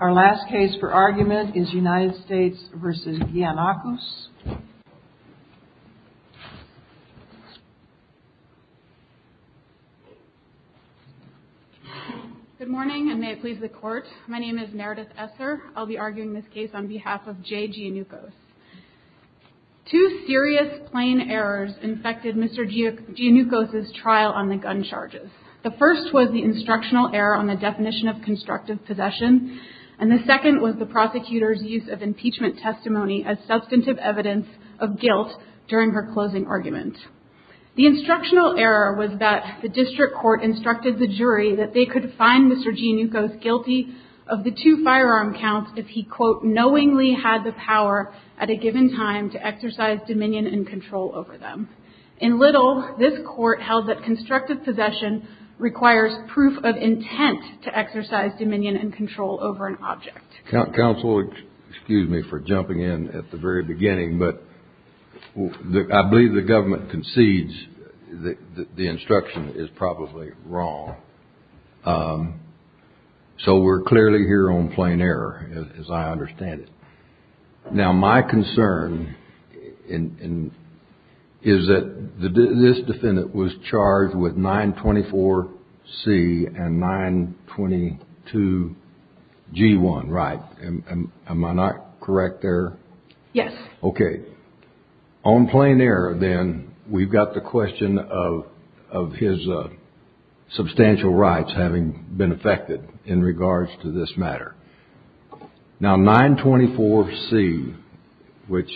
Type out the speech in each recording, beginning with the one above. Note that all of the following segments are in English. Our last case for argument is United States v. Giannakos. Good morning and may it please the Court. My name is Meredith Esser. I'll be arguing this case on behalf of J. Giannukos. Two serious plain errors infected Mr. Giannukos' trial on the gun charges. The first was the instructional error on the definition of constructive possession, and the second was the prosecutor's use of impeachment testimony as substantive evidence of guilt during her closing argument. The instructional error was that the district court instructed the jury that they could find Mr. Giannukos guilty of the two firearm counts if he, quote, knowingly had the power at a given time to exercise dominion and control over them. In Little, this court held that constructive possession requires proof of intent to exercise dominion and control over an object. Counsel, excuse me for jumping in at the very beginning, but I believe the government concedes that the instruction is probably wrong. So we're clearly here on plain error, as I understand it. Now my concern is that this defendant was charged with 924C and 922G1, right? Am I not correct there? Yes. Okay. On plain error, then, we've got the question of his substantial rights having been affected in regards to this matter. Now 924C, which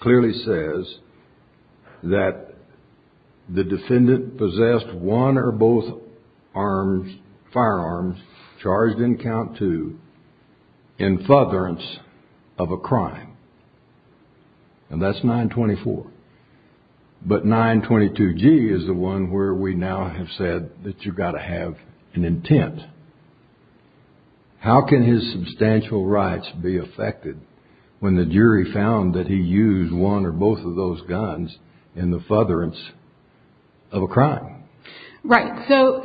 clearly says that the defendant possessed one or both firearms charged in count two in furtherance of a crime, and that's 924. But 922G is the one where we now have said that you've got to have an intent. How can his substantial rights be affected when the jury found that he used one or both of those guns in the furtherance of a crime? Right. So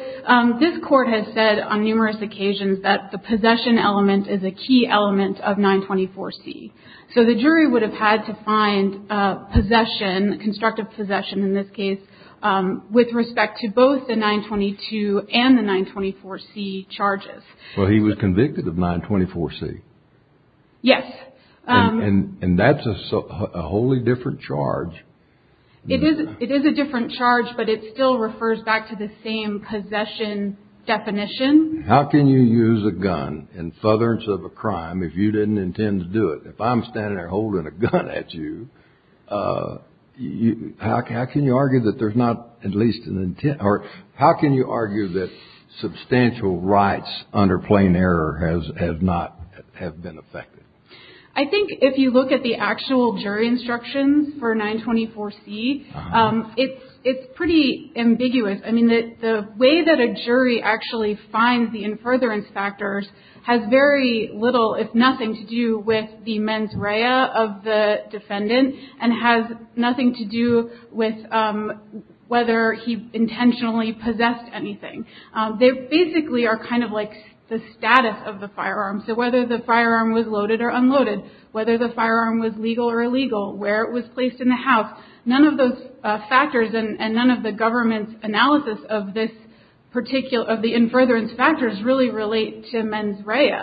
this court has said on numerous occasions that the possession element is a key element of 924C. So the jury would have had to find possession, constructive possession in this case, with respect to both the 922 and the 924C charges. Well, he was convicted of 924C. Yes. And that's a wholly different charge. It is a different charge, but it still refers back to the same possession definition. How can you use a gun in furtherance of a crime if you didn't intend to do it? If I'm standing there holding a gun at you, how can you argue that there's not at least an intent? Or how can you argue that substantial rights under plain error have not been affected? I think if you look at the actual jury instructions for 924C, it's pretty ambiguous. I mean, the way that a jury actually finds the in furtherance factors has very little, if nothing, to do with the mens rea of the defendant and has nothing to do with whether he intentionally possessed anything. They basically are kind of like the status of the firearm. So whether the firearm was loaded or unloaded, whether the firearm was legal or illegal, where it was placed in the house, none of those factors and none of the government's analysis of the in furtherance factors really relate to mens rea.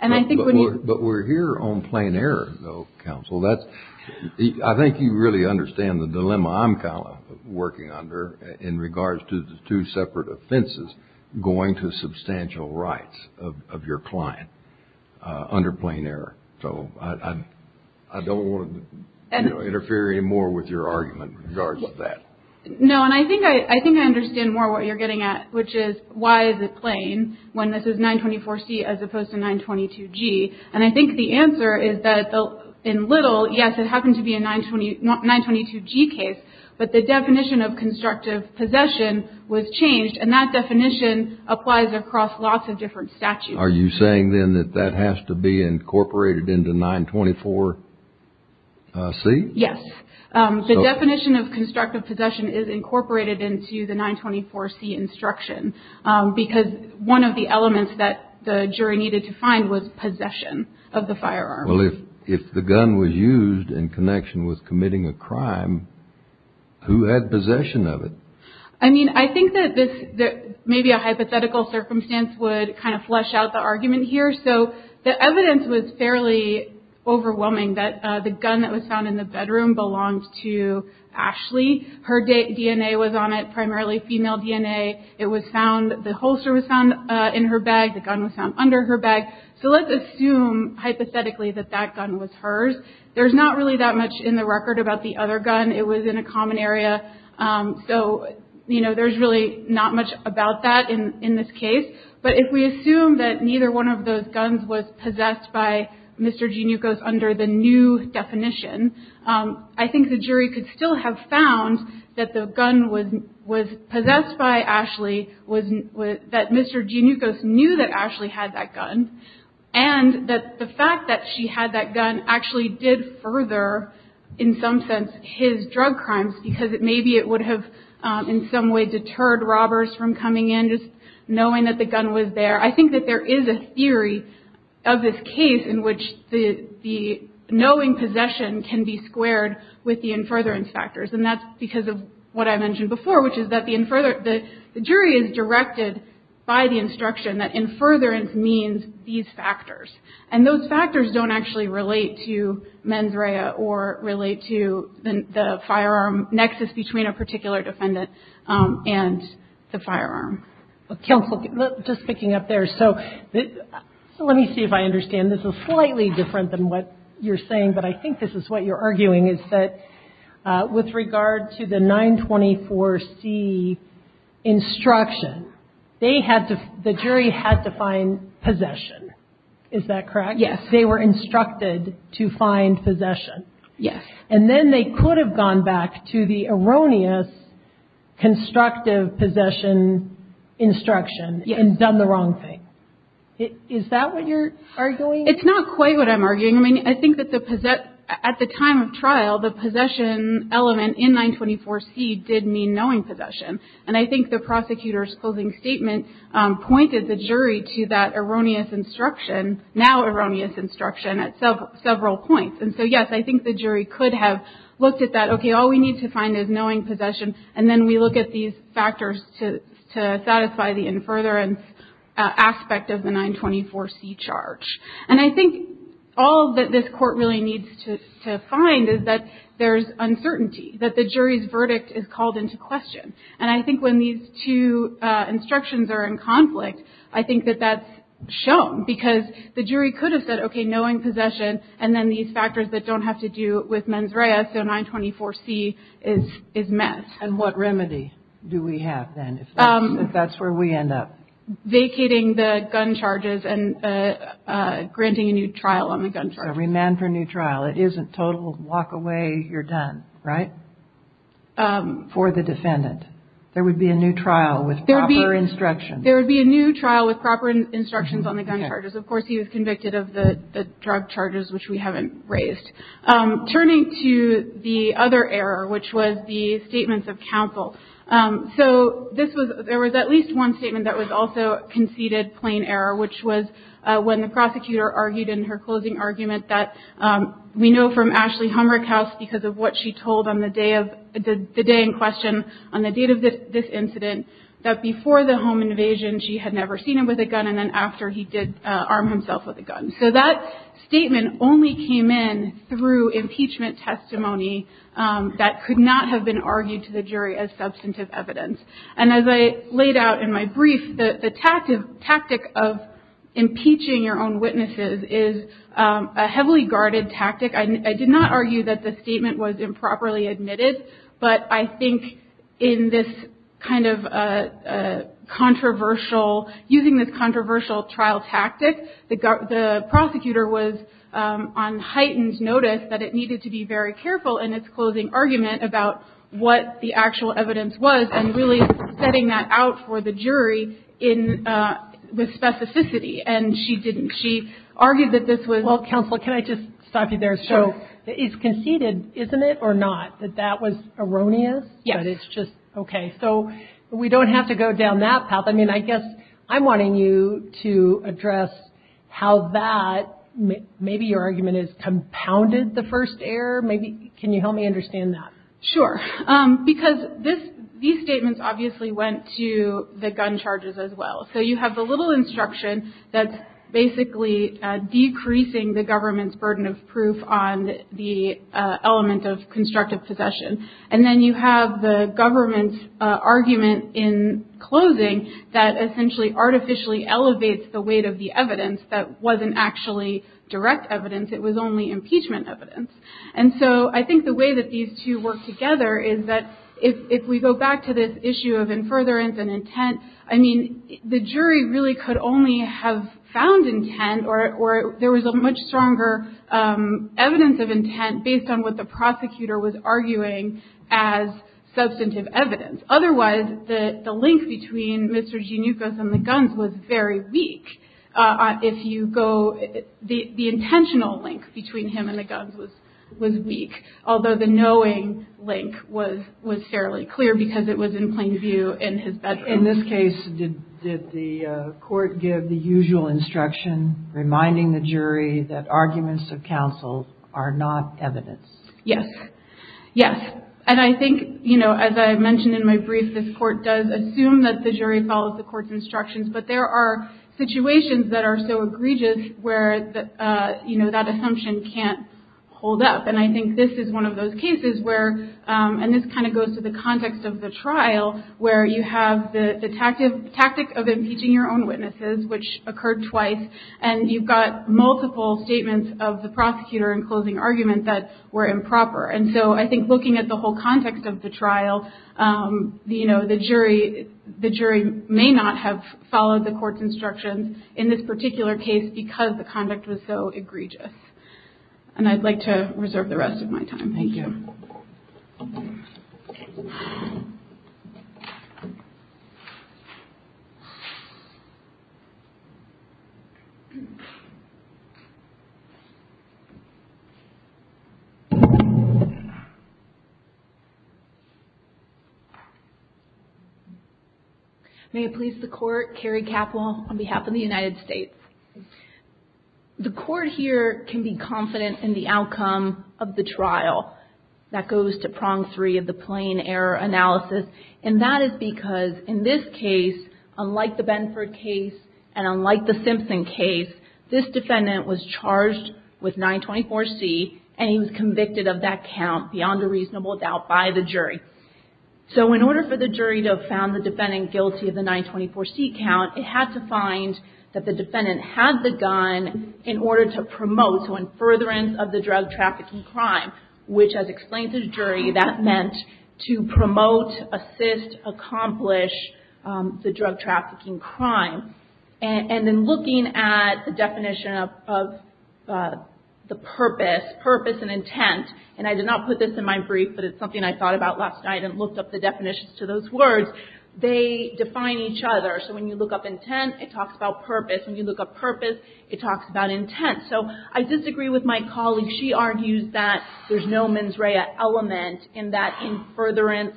But we're here on plain error, though, counsel. I think you really understand the dilemma I'm working under in regards to the two separate offenses going to substantial rights of your client under plain error. So I don't want to interfere anymore with your argument in regards to that. No, and I think I understand more what you're getting at, which is why is it plain when this is 924C as opposed to 922G? And I think the answer is that in Little, yes, it happened to be a 922G case, but the definition of constructive possession was changed, and that definition applies across lots of different statutes. Are you saying, then, that that has to be incorporated into 924C? Yes. The definition of constructive possession is incorporated into the 924C instruction because one of the elements that the jury needed to find was possession of the firearm. Well, if the gun was used in connection with committing a crime, who had possession of it? I mean, I think that maybe a hypothetical circumstance would kind of flesh out the argument here. So the evidence was fairly overwhelming that the gun that was found in the bedroom belonged to Ashley. Her DNA was on it, primarily female DNA. It was found, the holster was found in her bag. The gun was found under her bag. So let's assume, hypothetically, that that gun was hers. There's not really that much in the record about the other gun. It was in a common area. So, you know, there's really not much about that in this case. But if we assume that neither one of those guns was possessed by Mr. Gianucos under the new definition, I think the jury could still have found that the gun was possessed by Ashley, that Mr. Gianucos knew that Ashley had that gun, and that the fact that she had that gun actually did further, in some sense, his drug crimes, because maybe it would have, in some way, deterred robbers from coming in, just knowing that the gun was there. I think that there is a theory of this case in which the knowing possession can be squared with the infurtherance factors. And that's because of what I mentioned before, which is that the jury is directed by the instruction that infurtherance means these factors. And those factors don't actually relate to mens rea or relate to the firearm nexus between a particular defendant and the firearm. Counsel, just picking up there. So let me see if I understand. This is slightly different than what you're saying, but I think this is what you're arguing, is that with regard to the 924C instruction, the jury had to find possession. Is that correct? Yes. They were instructed to find possession. Yes. And then they could have gone back to the erroneous constructive possession instruction and done the wrong thing. Yes. It's not quite what I'm arguing. I mean, I think that at the time of trial, the possession element in 924C did mean knowing possession. And I think the prosecutor's closing statement pointed the jury to that erroneous instruction, now erroneous instruction, at several points. And so, yes, I think the jury could have looked at that. Okay, all we need to find is knowing possession, and then we look at these factors to satisfy the infurtherance aspect of the 924C charge. And I think all that this court really needs to find is that there's uncertainty, that the jury's verdict is called into question. And I think when these two instructions are in conflict, I think that that's shown because the jury could have said, okay, knowing possession, and then these factors that don't have to do with mens rea, so 924C is met. And what remedy do we have then, if that's where we end up? Vacating the gun charges and granting a new trial on the gun charges. So remand for new trial. It isn't total walk away, you're done, right, for the defendant. There would be a new trial with proper instructions. There would be a new trial with proper instructions on the gun charges. Of course, he was convicted of the drug charges, which we haven't raised. Turning to the other error, which was the statements of counsel. So there was at least one statement that was also conceded plain error, which was when the prosecutor argued in her closing argument that we know from Ashley Humberkaus because of what she told on the day in question, on the date of this incident, that before the home invasion, she had never seen him with a gun, and then after, he did arm himself with a gun. So that statement only came in through impeachment testimony that could not have been argued to the jury as substantive evidence. And as I laid out in my brief, the tactic of impeaching your own witnesses is a heavily guarded tactic. I did not argue that the statement was improperly admitted, but I think in this kind of controversial, using this controversial trial tactic, the prosecutor was on heightened notice that it needed to be very careful in its closing argument about what the actual evidence was, and really setting that out for the jury with specificity. And she didn't. She argued that this was... Well, counsel, can I just stop you there? Sure. So it's conceded, isn't it, or not, that that was erroneous? Yes. But it's just, okay. So we don't have to go down that path. I mean, I guess I'm wanting you to address how that, maybe your argument is compounded the first error. Can you help me understand that? Sure. Because these statements obviously went to the gun charges as well. So you have the little instruction that's basically decreasing the government's burden of proof on the element of constructive possession. And then you have the government's argument in closing that essentially artificially elevates the weight of the evidence that wasn't actually direct evidence. It was only impeachment evidence. And so I think the way that these two work together is that if we go back to this issue of infuriance and intent, I mean, the jury really could only have found intent, or there was a much stronger evidence of intent based on what the prosecutor was arguing as substantive evidence. Otherwise, the link between Mr. Gianucos and the guns was very weak. If you go, the intentional link between him and the guns was weak, although the knowing link was fairly clear because it was in plain view in his bedroom. In this case, did the court give the usual instruction, reminding the jury that arguments of counsel are not evidence? Yes. Yes. And I think, you know, as I mentioned in my brief, this court does assume that the jury follows the court's instructions, but there are situations that are so egregious where, you know, that assumption can't hold up. And I think this is one of those cases where, and this kind of goes to the context of the trial, where you have the tactic of impeaching your own witnesses, which occurred twice, and you've got multiple statements of the prosecutor in closing argument that were improper. And so I think looking at the whole context of the trial, you know, the jury may not have followed the court's instructions in this particular case because the conduct was so egregious. And I'd like to reserve the rest of my time. Thank you. May it please the court, Carrie Capple, on behalf of the United States. The court here can be confident in the outcome of the trial. That goes to prong three of the plain error analysis. And that is because in this case, unlike the Benford case and unlike the Simpson case, this defendant was charged with 924C and he was convicted of that count beyond a reasonable doubt by the jury. So in order for the jury to have found the defendant guilty of the 924C count, it had to find that the defendant had the gun in order to promote, so in furtherance of the drug trafficking crime, which as explained to the jury, that meant to promote, assist, accomplish the drug trafficking crime. And then looking at the definition of the purpose, purpose and intent, and I did not put this in my brief, but it's something I thought about last night and looked up the definitions to those words. They define each other. So when you look up intent, it talks about purpose. When you look up purpose, it talks about intent. So I disagree with my colleague. She argues that there's no mens rea element in that in furtherance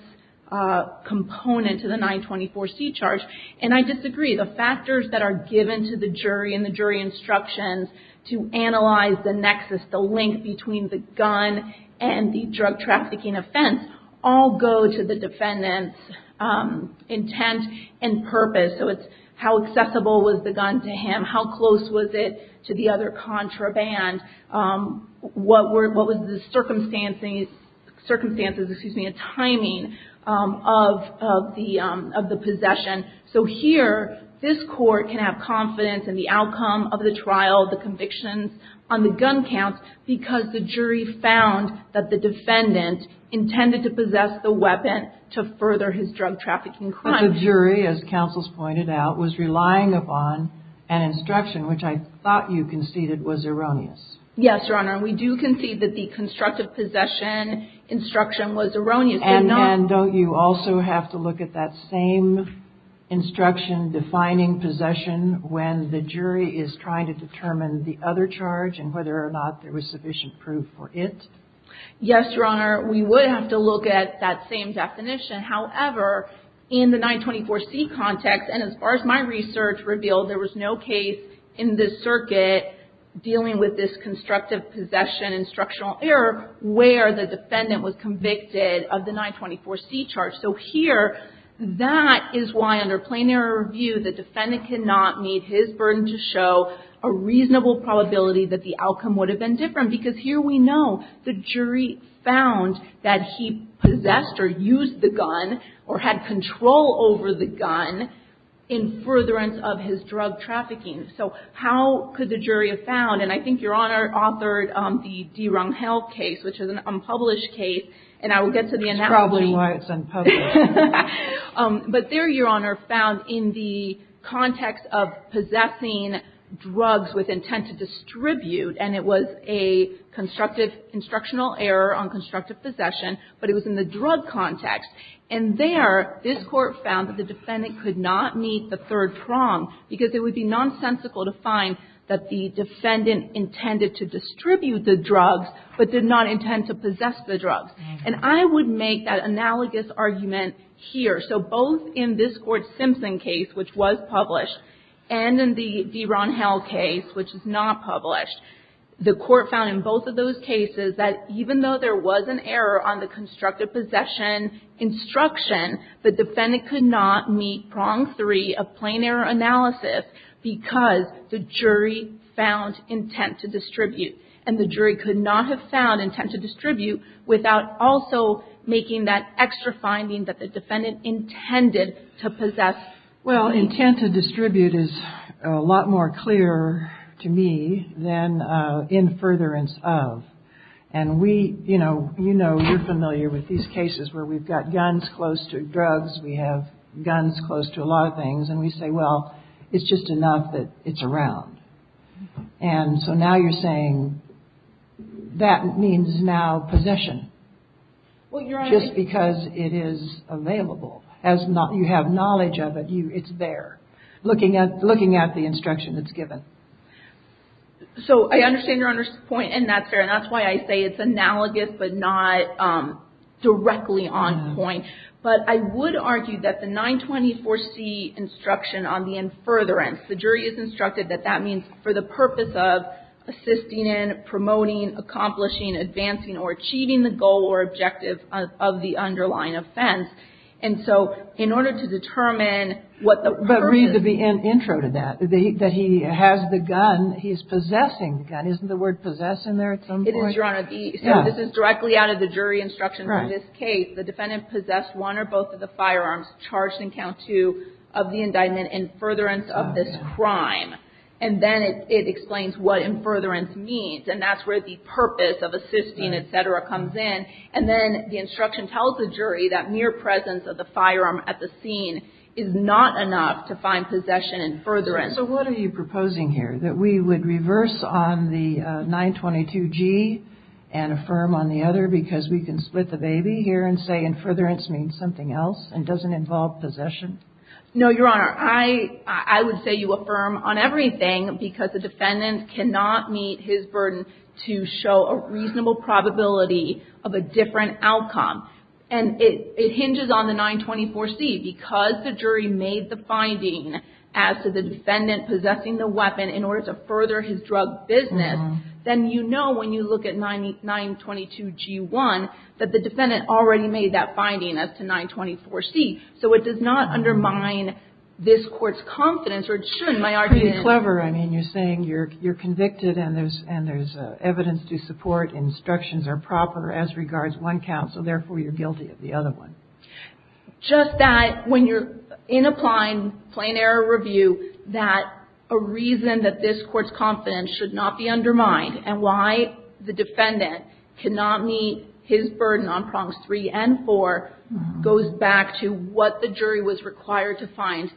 component to the 924C charge. And I disagree. The factors that are given to the jury and the jury instructions to analyze the nexus, the length between the gun and the drug trafficking offense, all go to the defendant's intent and purpose. So it's how accessible was the gun to him? How close was it to the other contraband? What was the circumstances, excuse me, the timing of the possession? So here, this court can have confidence in the outcome of the trial, the convictions on the gun counts, because the jury found that the defendant intended to possess the weapon to further his drug trafficking crime. But the jury, as counsel's pointed out, was relying upon an instruction, which I thought you conceded was erroneous. Yes, Your Honor. We do concede that the constructive possession instruction was erroneous. And don't you also have to look at that same instruction defining possession when the jury is trying to determine the other charge and whether or not there was sufficient proof for it? Yes, Your Honor. We would have to look at that same definition. However, in the 924C context, and as far as my research revealed, there was no case in this circuit dealing with this constructive possession instructional error where the defendant was convicted of the 924C charge. So here, that is why, under plain error review, the defendant cannot meet his burden to show a reasonable probability that the outcome would have been different. Because here we know the jury found that he possessed or used the gun or had control over the gun in furtherance of his drug trafficking. So how could the jury have found? And I think, Your Honor, authored the DeRung Health case, which is an unpublished case. And I will get to the analogy. That's probably why it's unpublished. But there, Your Honor, found in the context of possessing drugs with intent to distribute, and it was a constructive instructional error on constructive possession, but it was in the drug context. And there, this Court found that the defendant could not meet the third prong, because it would be nonsensical to find that the defendant intended to distribute the drugs, but did not intend to possess the drugs. And I would make that analogous argument here. So both in this Court's Simpson case, which was published, and in the DeRung Health case, which is not published, the Court found in both of those cases that even though there was an error on the constructive possession instruction, the defendant could not meet prong three of plain error analysis, because the jury found intent to distribute. And the jury could not have found intent to distribute without also making that extra finding that the defendant intended to possess. Well, intent to distribute is a lot more clear to me than in furtherance of. And we, you know, you know, you're familiar with these cases where we've got guns close to drugs, we have guns close to a lot of things, and we say, well, it's just enough that it's around. And so now you're saying that means now possession. Well, you're right. Just because it is available. As not, you have knowledge of it, you, it's there. Looking at, looking at the instruction that's given. So I understand your point in that, Sarah, and that's why I say it's analogous, but not directly on point. But I would argue that the 924C instruction on the in furtherance, the jury is instructed that that means for the purpose of assisting in, promoting, accomplishing, advancing, or achieving the goal or objective of the underlying offense. And so in order to determine what the purpose is. But read the intro to that, that he has the gun, he's possessing the gun. Isn't the word possess in there at some point? It is, Your Honor. So this is directly out of the jury instruction for this case. The defendant possessed one or both of the firearms charged in count two of the crime. And then it explains what in furtherance means. And that's where the purpose of assisting, et cetera, comes in. And then the instruction tells the jury that mere presence of the firearm at the scene is not enough to find possession in furtherance. So what are you proposing here? That we would reverse on the 922G and affirm on the other because we can split the baby here and say in furtherance means something else and doesn't involve possession? No, Your Honor. I would say you affirm on everything because the defendant cannot meet his burden to show a reasonable probability of a different outcome. And it hinges on the 924C. Because the jury made the finding as to the defendant possessing the weapon in order to further his drug business, then you know when you look at 922G1 that the defendant already made that finding as to 924C. So it does not undermine this court's confidence or it shouldn't, my argument is. Pretty clever. I mean, you're saying you're convicted and there's evidence to support, instructions are proper as regards one counsel, therefore you're guilty of the other one. Just that when you're in applying plain error review that a reason that this court's confidence should not be undermined and why the defendant cannot meet his it goes back to what the jury was required to find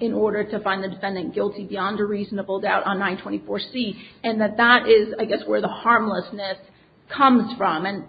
in order to find the defendant guilty beyond a reasonable doubt on 924C. And that that is, I guess, where the harmlessness comes from. And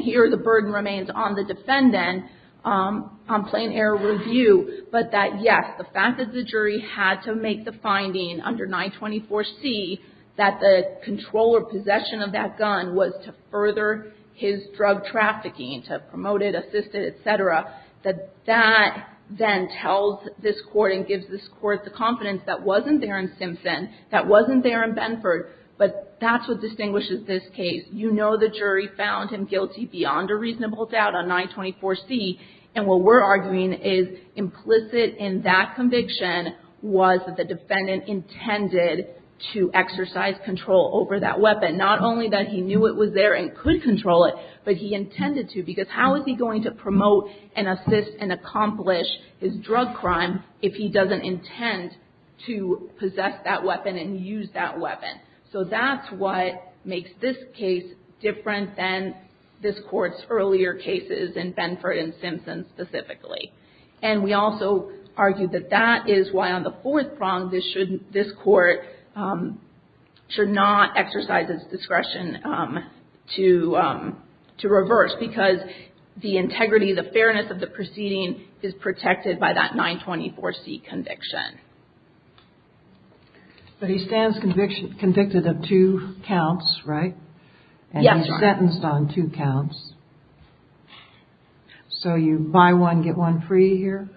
here the burden remains on the defendant on plain error review. But that, yes, the fact that the jury had to make the finding under 924C that the controller possession of that gun was to further his drug trafficking, to promote it, assist it, et cetera, that that then tells this court and gives this court the confidence that wasn't there in Simpson, that wasn't there in Benford, but that's what distinguishes this case. You know the jury found him guilty beyond a reasonable doubt on 924C and what we're arguing is implicit in that conviction was that the defendant intended to exercise control over that weapon. Not only that he knew it was there and could control it, but he intended to because how is he going to promote and assist and accomplish his drug crime if he doesn't intend to possess that weapon and use that weapon? So that's what makes this case different than this court's earlier cases in Benford and Simpson specifically. And we also argue that that is why on the fourth prong this court should not exercise its discretion to reverse because the integrity, the fairness of the proceeding is protected by that 924C conviction. But he stands convicted of two counts, right? Yes, Your Honor. And he's sentenced on two counts. So you buy one, get one free here?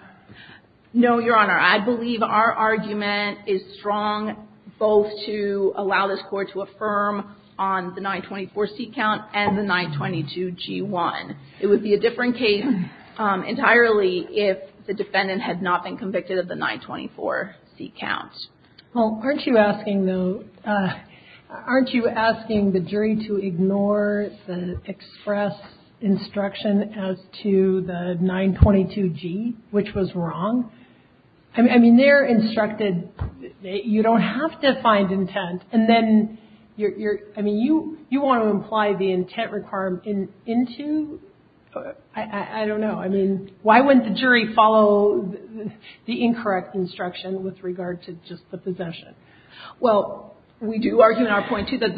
No, Your Honor. I believe our argument is strong both to allow this court to affirm on the 924C count and the 922G1. It would be a different case entirely if the defendant had not been convicted of the 924C count. Well, aren't you asking the jury to ignore the express instruction as to the 922G, which was wrong? I mean, they're instructed you don't have to find intent. And then you're, I mean, you want to imply the intent required into? I don't know. I mean, why wouldn't the jury follow the incorrect instruction with regard to just the possession? Well, we do argue in our point, too, that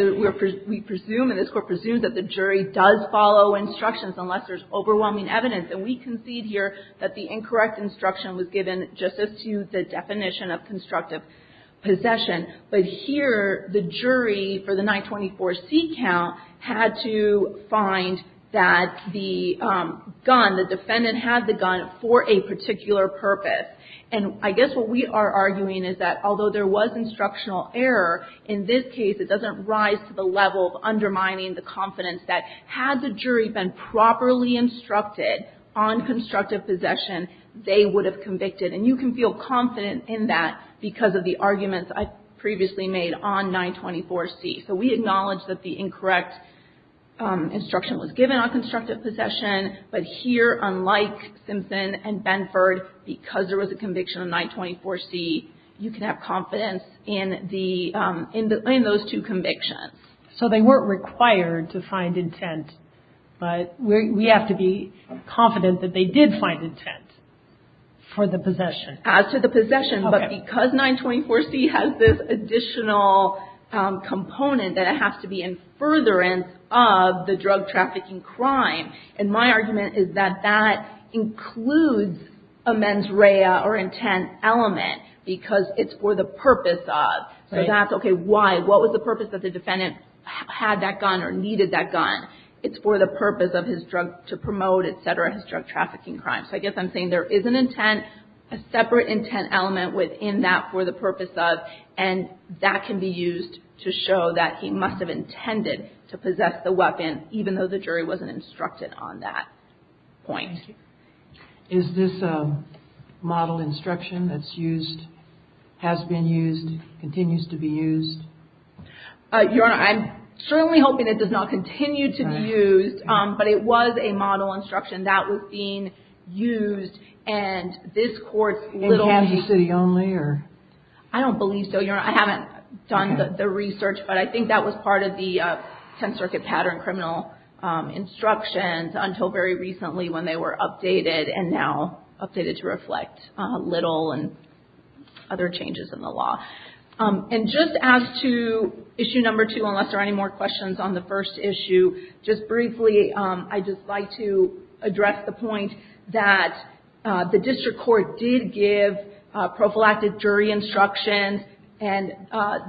we presume and this Court presumes that the jury does follow instructions unless there's overwhelming evidence. And we concede here that the incorrect instruction was given just as to the definition of constructive possession. But here the jury for the 924C count had to find that the gun, the defendant had the gun for a particular purpose. And I guess what we are arguing is that although there was instructional error, in this case it doesn't rise to the level of undermining the confidence that had the jury been properly instructed on constructive possession, they would have convicted. And you can feel confident in that because of the arguments I previously made on 924C. So we acknowledge that the incorrect instruction was given on constructive possession. But here, unlike Simpson and Benford, because there was a conviction on 924C, you can have confidence in the, in those two convictions. So they weren't required to find intent, but we have to be confident that they did find intent for the possession. As to the possession. Okay. But because 924C has this additional component that it has to be in furtherance of the drug trafficking crime, and my argument is that that includes a mens rea or intent element because it's for the purpose of. Right. So that's okay. Why? What was the purpose that the defendant had that gun or needed that gun? It's for the purpose of his drug, to promote, et cetera, his drug trafficking crime. So I guess I'm saying there is an intent, a separate intent element within that for the purpose of. And that can be used to show that he must have intended to possess the weapon, even though the jury wasn't instructed on that point. Thank you. Is this a model instruction that's used, has been used, continues to be used? Your Honor, I'm certainly hoping it does not continue to be used, but it was a model instruction that was being used, and this court's little. In Kansas City only, or? I don't believe so, Your Honor. I haven't done the research, but I think that was part of the Tenth Circuit pattern criminal instructions until very recently when they were updated, and now updated to reflect little and other changes in the law. And just as to issue number two, unless there are any more questions on the first issue, just briefly, I'd just like to address the point that the district court did give prophylactic jury instructions, and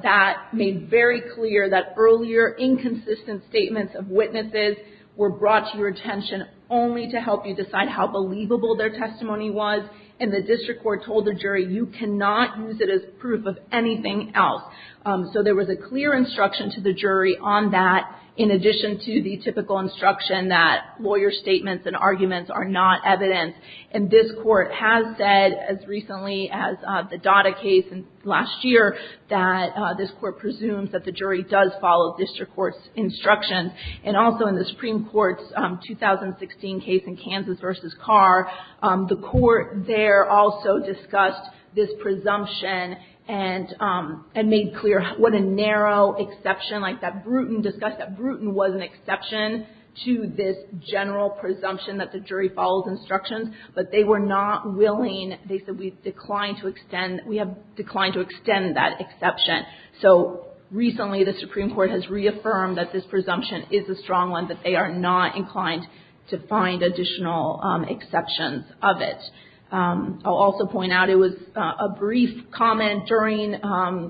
that made very clear that earlier inconsistent statements of witnesses were brought to your attention only to help you decide how believable their testimony was, and the district court told the jury, you cannot use it as proof of anything else. So there was a clear instruction to the jury on that, in addition to the typical instruction that lawyer statements and arguments are not evidence. And this court has said, as recently as the Dada case last year, that this court presumes that the jury does follow district court's instructions, and also in the Supreme Court's 2016 case in Kansas v. Carr, the court there also discussed this presumption and made clear what a narrow exception, like that Bruton, discussed that Bruton was an exception to this general presumption that the jury follows instructions, but they were not willing, they said, we've declined to extend, we have declined to extend that exception. So recently, the Supreme Court has reaffirmed that this presumption is a strong one, that they are not inclined to find additional exceptions of it. I'll also point out, it was a brief comment during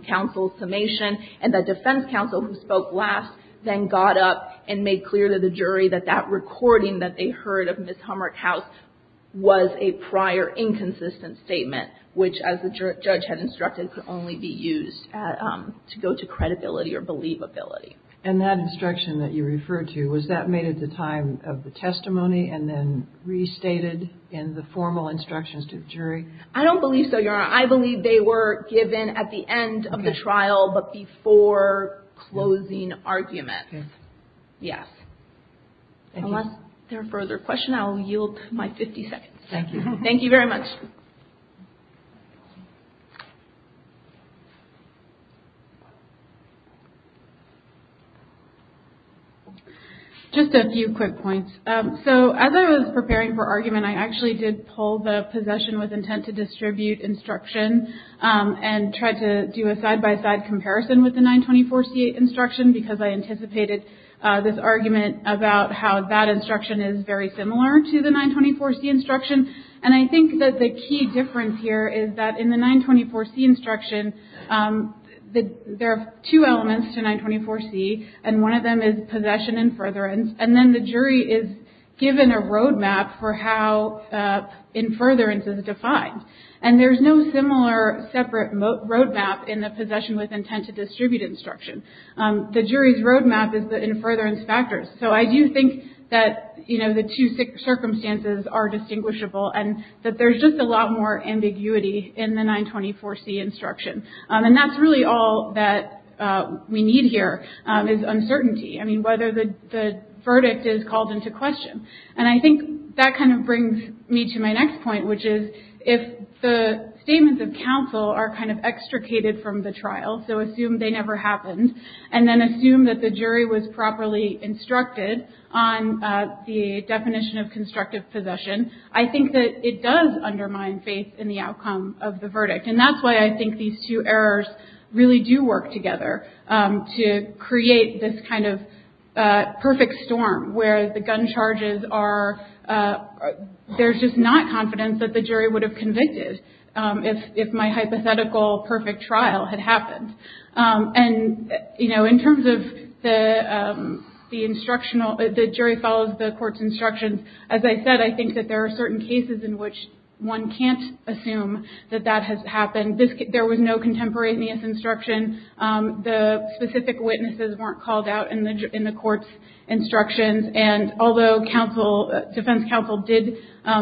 counsel's summation, and the defense counsel who spoke last then got up and made clear to the jury that that recording that they heard of Ms. Humrich House was a prior inconsistent statement, which as the judge had instructed could only be used to go to credibility or believability. And that instruction that you referred to, was that made at the time of the testimony and then restated in the formal instructions to the jury? I don't believe so, Your Honor. I believe they were given at the end of the trial, but before closing arguments. Okay. Yes. Thank you. Unless there are further questions, I will yield to my 50 seconds. Thank you. Thank you very much. Just a few quick points. So as I was preparing for argument, I actually did pull the Possession with Intent to Distribute instruction and tried to do a side-by-side comparison with the 924C instruction because I anticipated this argument about how that 924C instruction and I think that the key difference here is that in the 924C instruction, there are two elements to 924C and one of them is Possession Infurtherance and then the jury is given a road map for how Infurtherance is defined. And there is no similar separate road map in the Possession with Intent to Distribute instruction. The jury's road map is the Infurtherance factors. So I do think that, you know, the two circumstances are distinguishable and that there's just a lot more ambiguity in the 924C instruction. And that's really all that we need here is uncertainty. I mean, whether the verdict is called into question. And I think that kind of brings me to my next point, which is if the statements of counsel are kind of extricated from the trial, so assume they never happened and then assume that the jury was properly instructed on the definition of constructive possession, I think that it does undermine faith in the outcome of the verdict. And that's why I think these two errors really do work together to create this kind of perfect storm where the gun charges are, there's just not confidence that the jury would have convicted if my hypothetical perfect trial had happened. And, you know, in terms of the instructional, the jury follows the court's instructions. As I said, I think that there are certain cases in which one can't assume that that has happened. There was no contemporaneous instruction. The specific witnesses weren't called out in the court's instructions. And although defense counsel did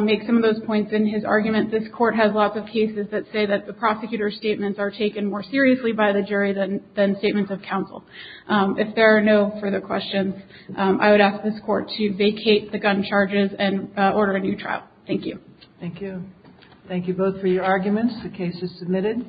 make some of those points in his argument, this court has lots of cases that say that the prosecutor's statements are taken more seriously by the jury than statements of counsel. If there are no further questions, I would ask this court to vacate the gun charges and order a new trial. Thank you. Thank you. Thank you both for your arguments. The case is submitted.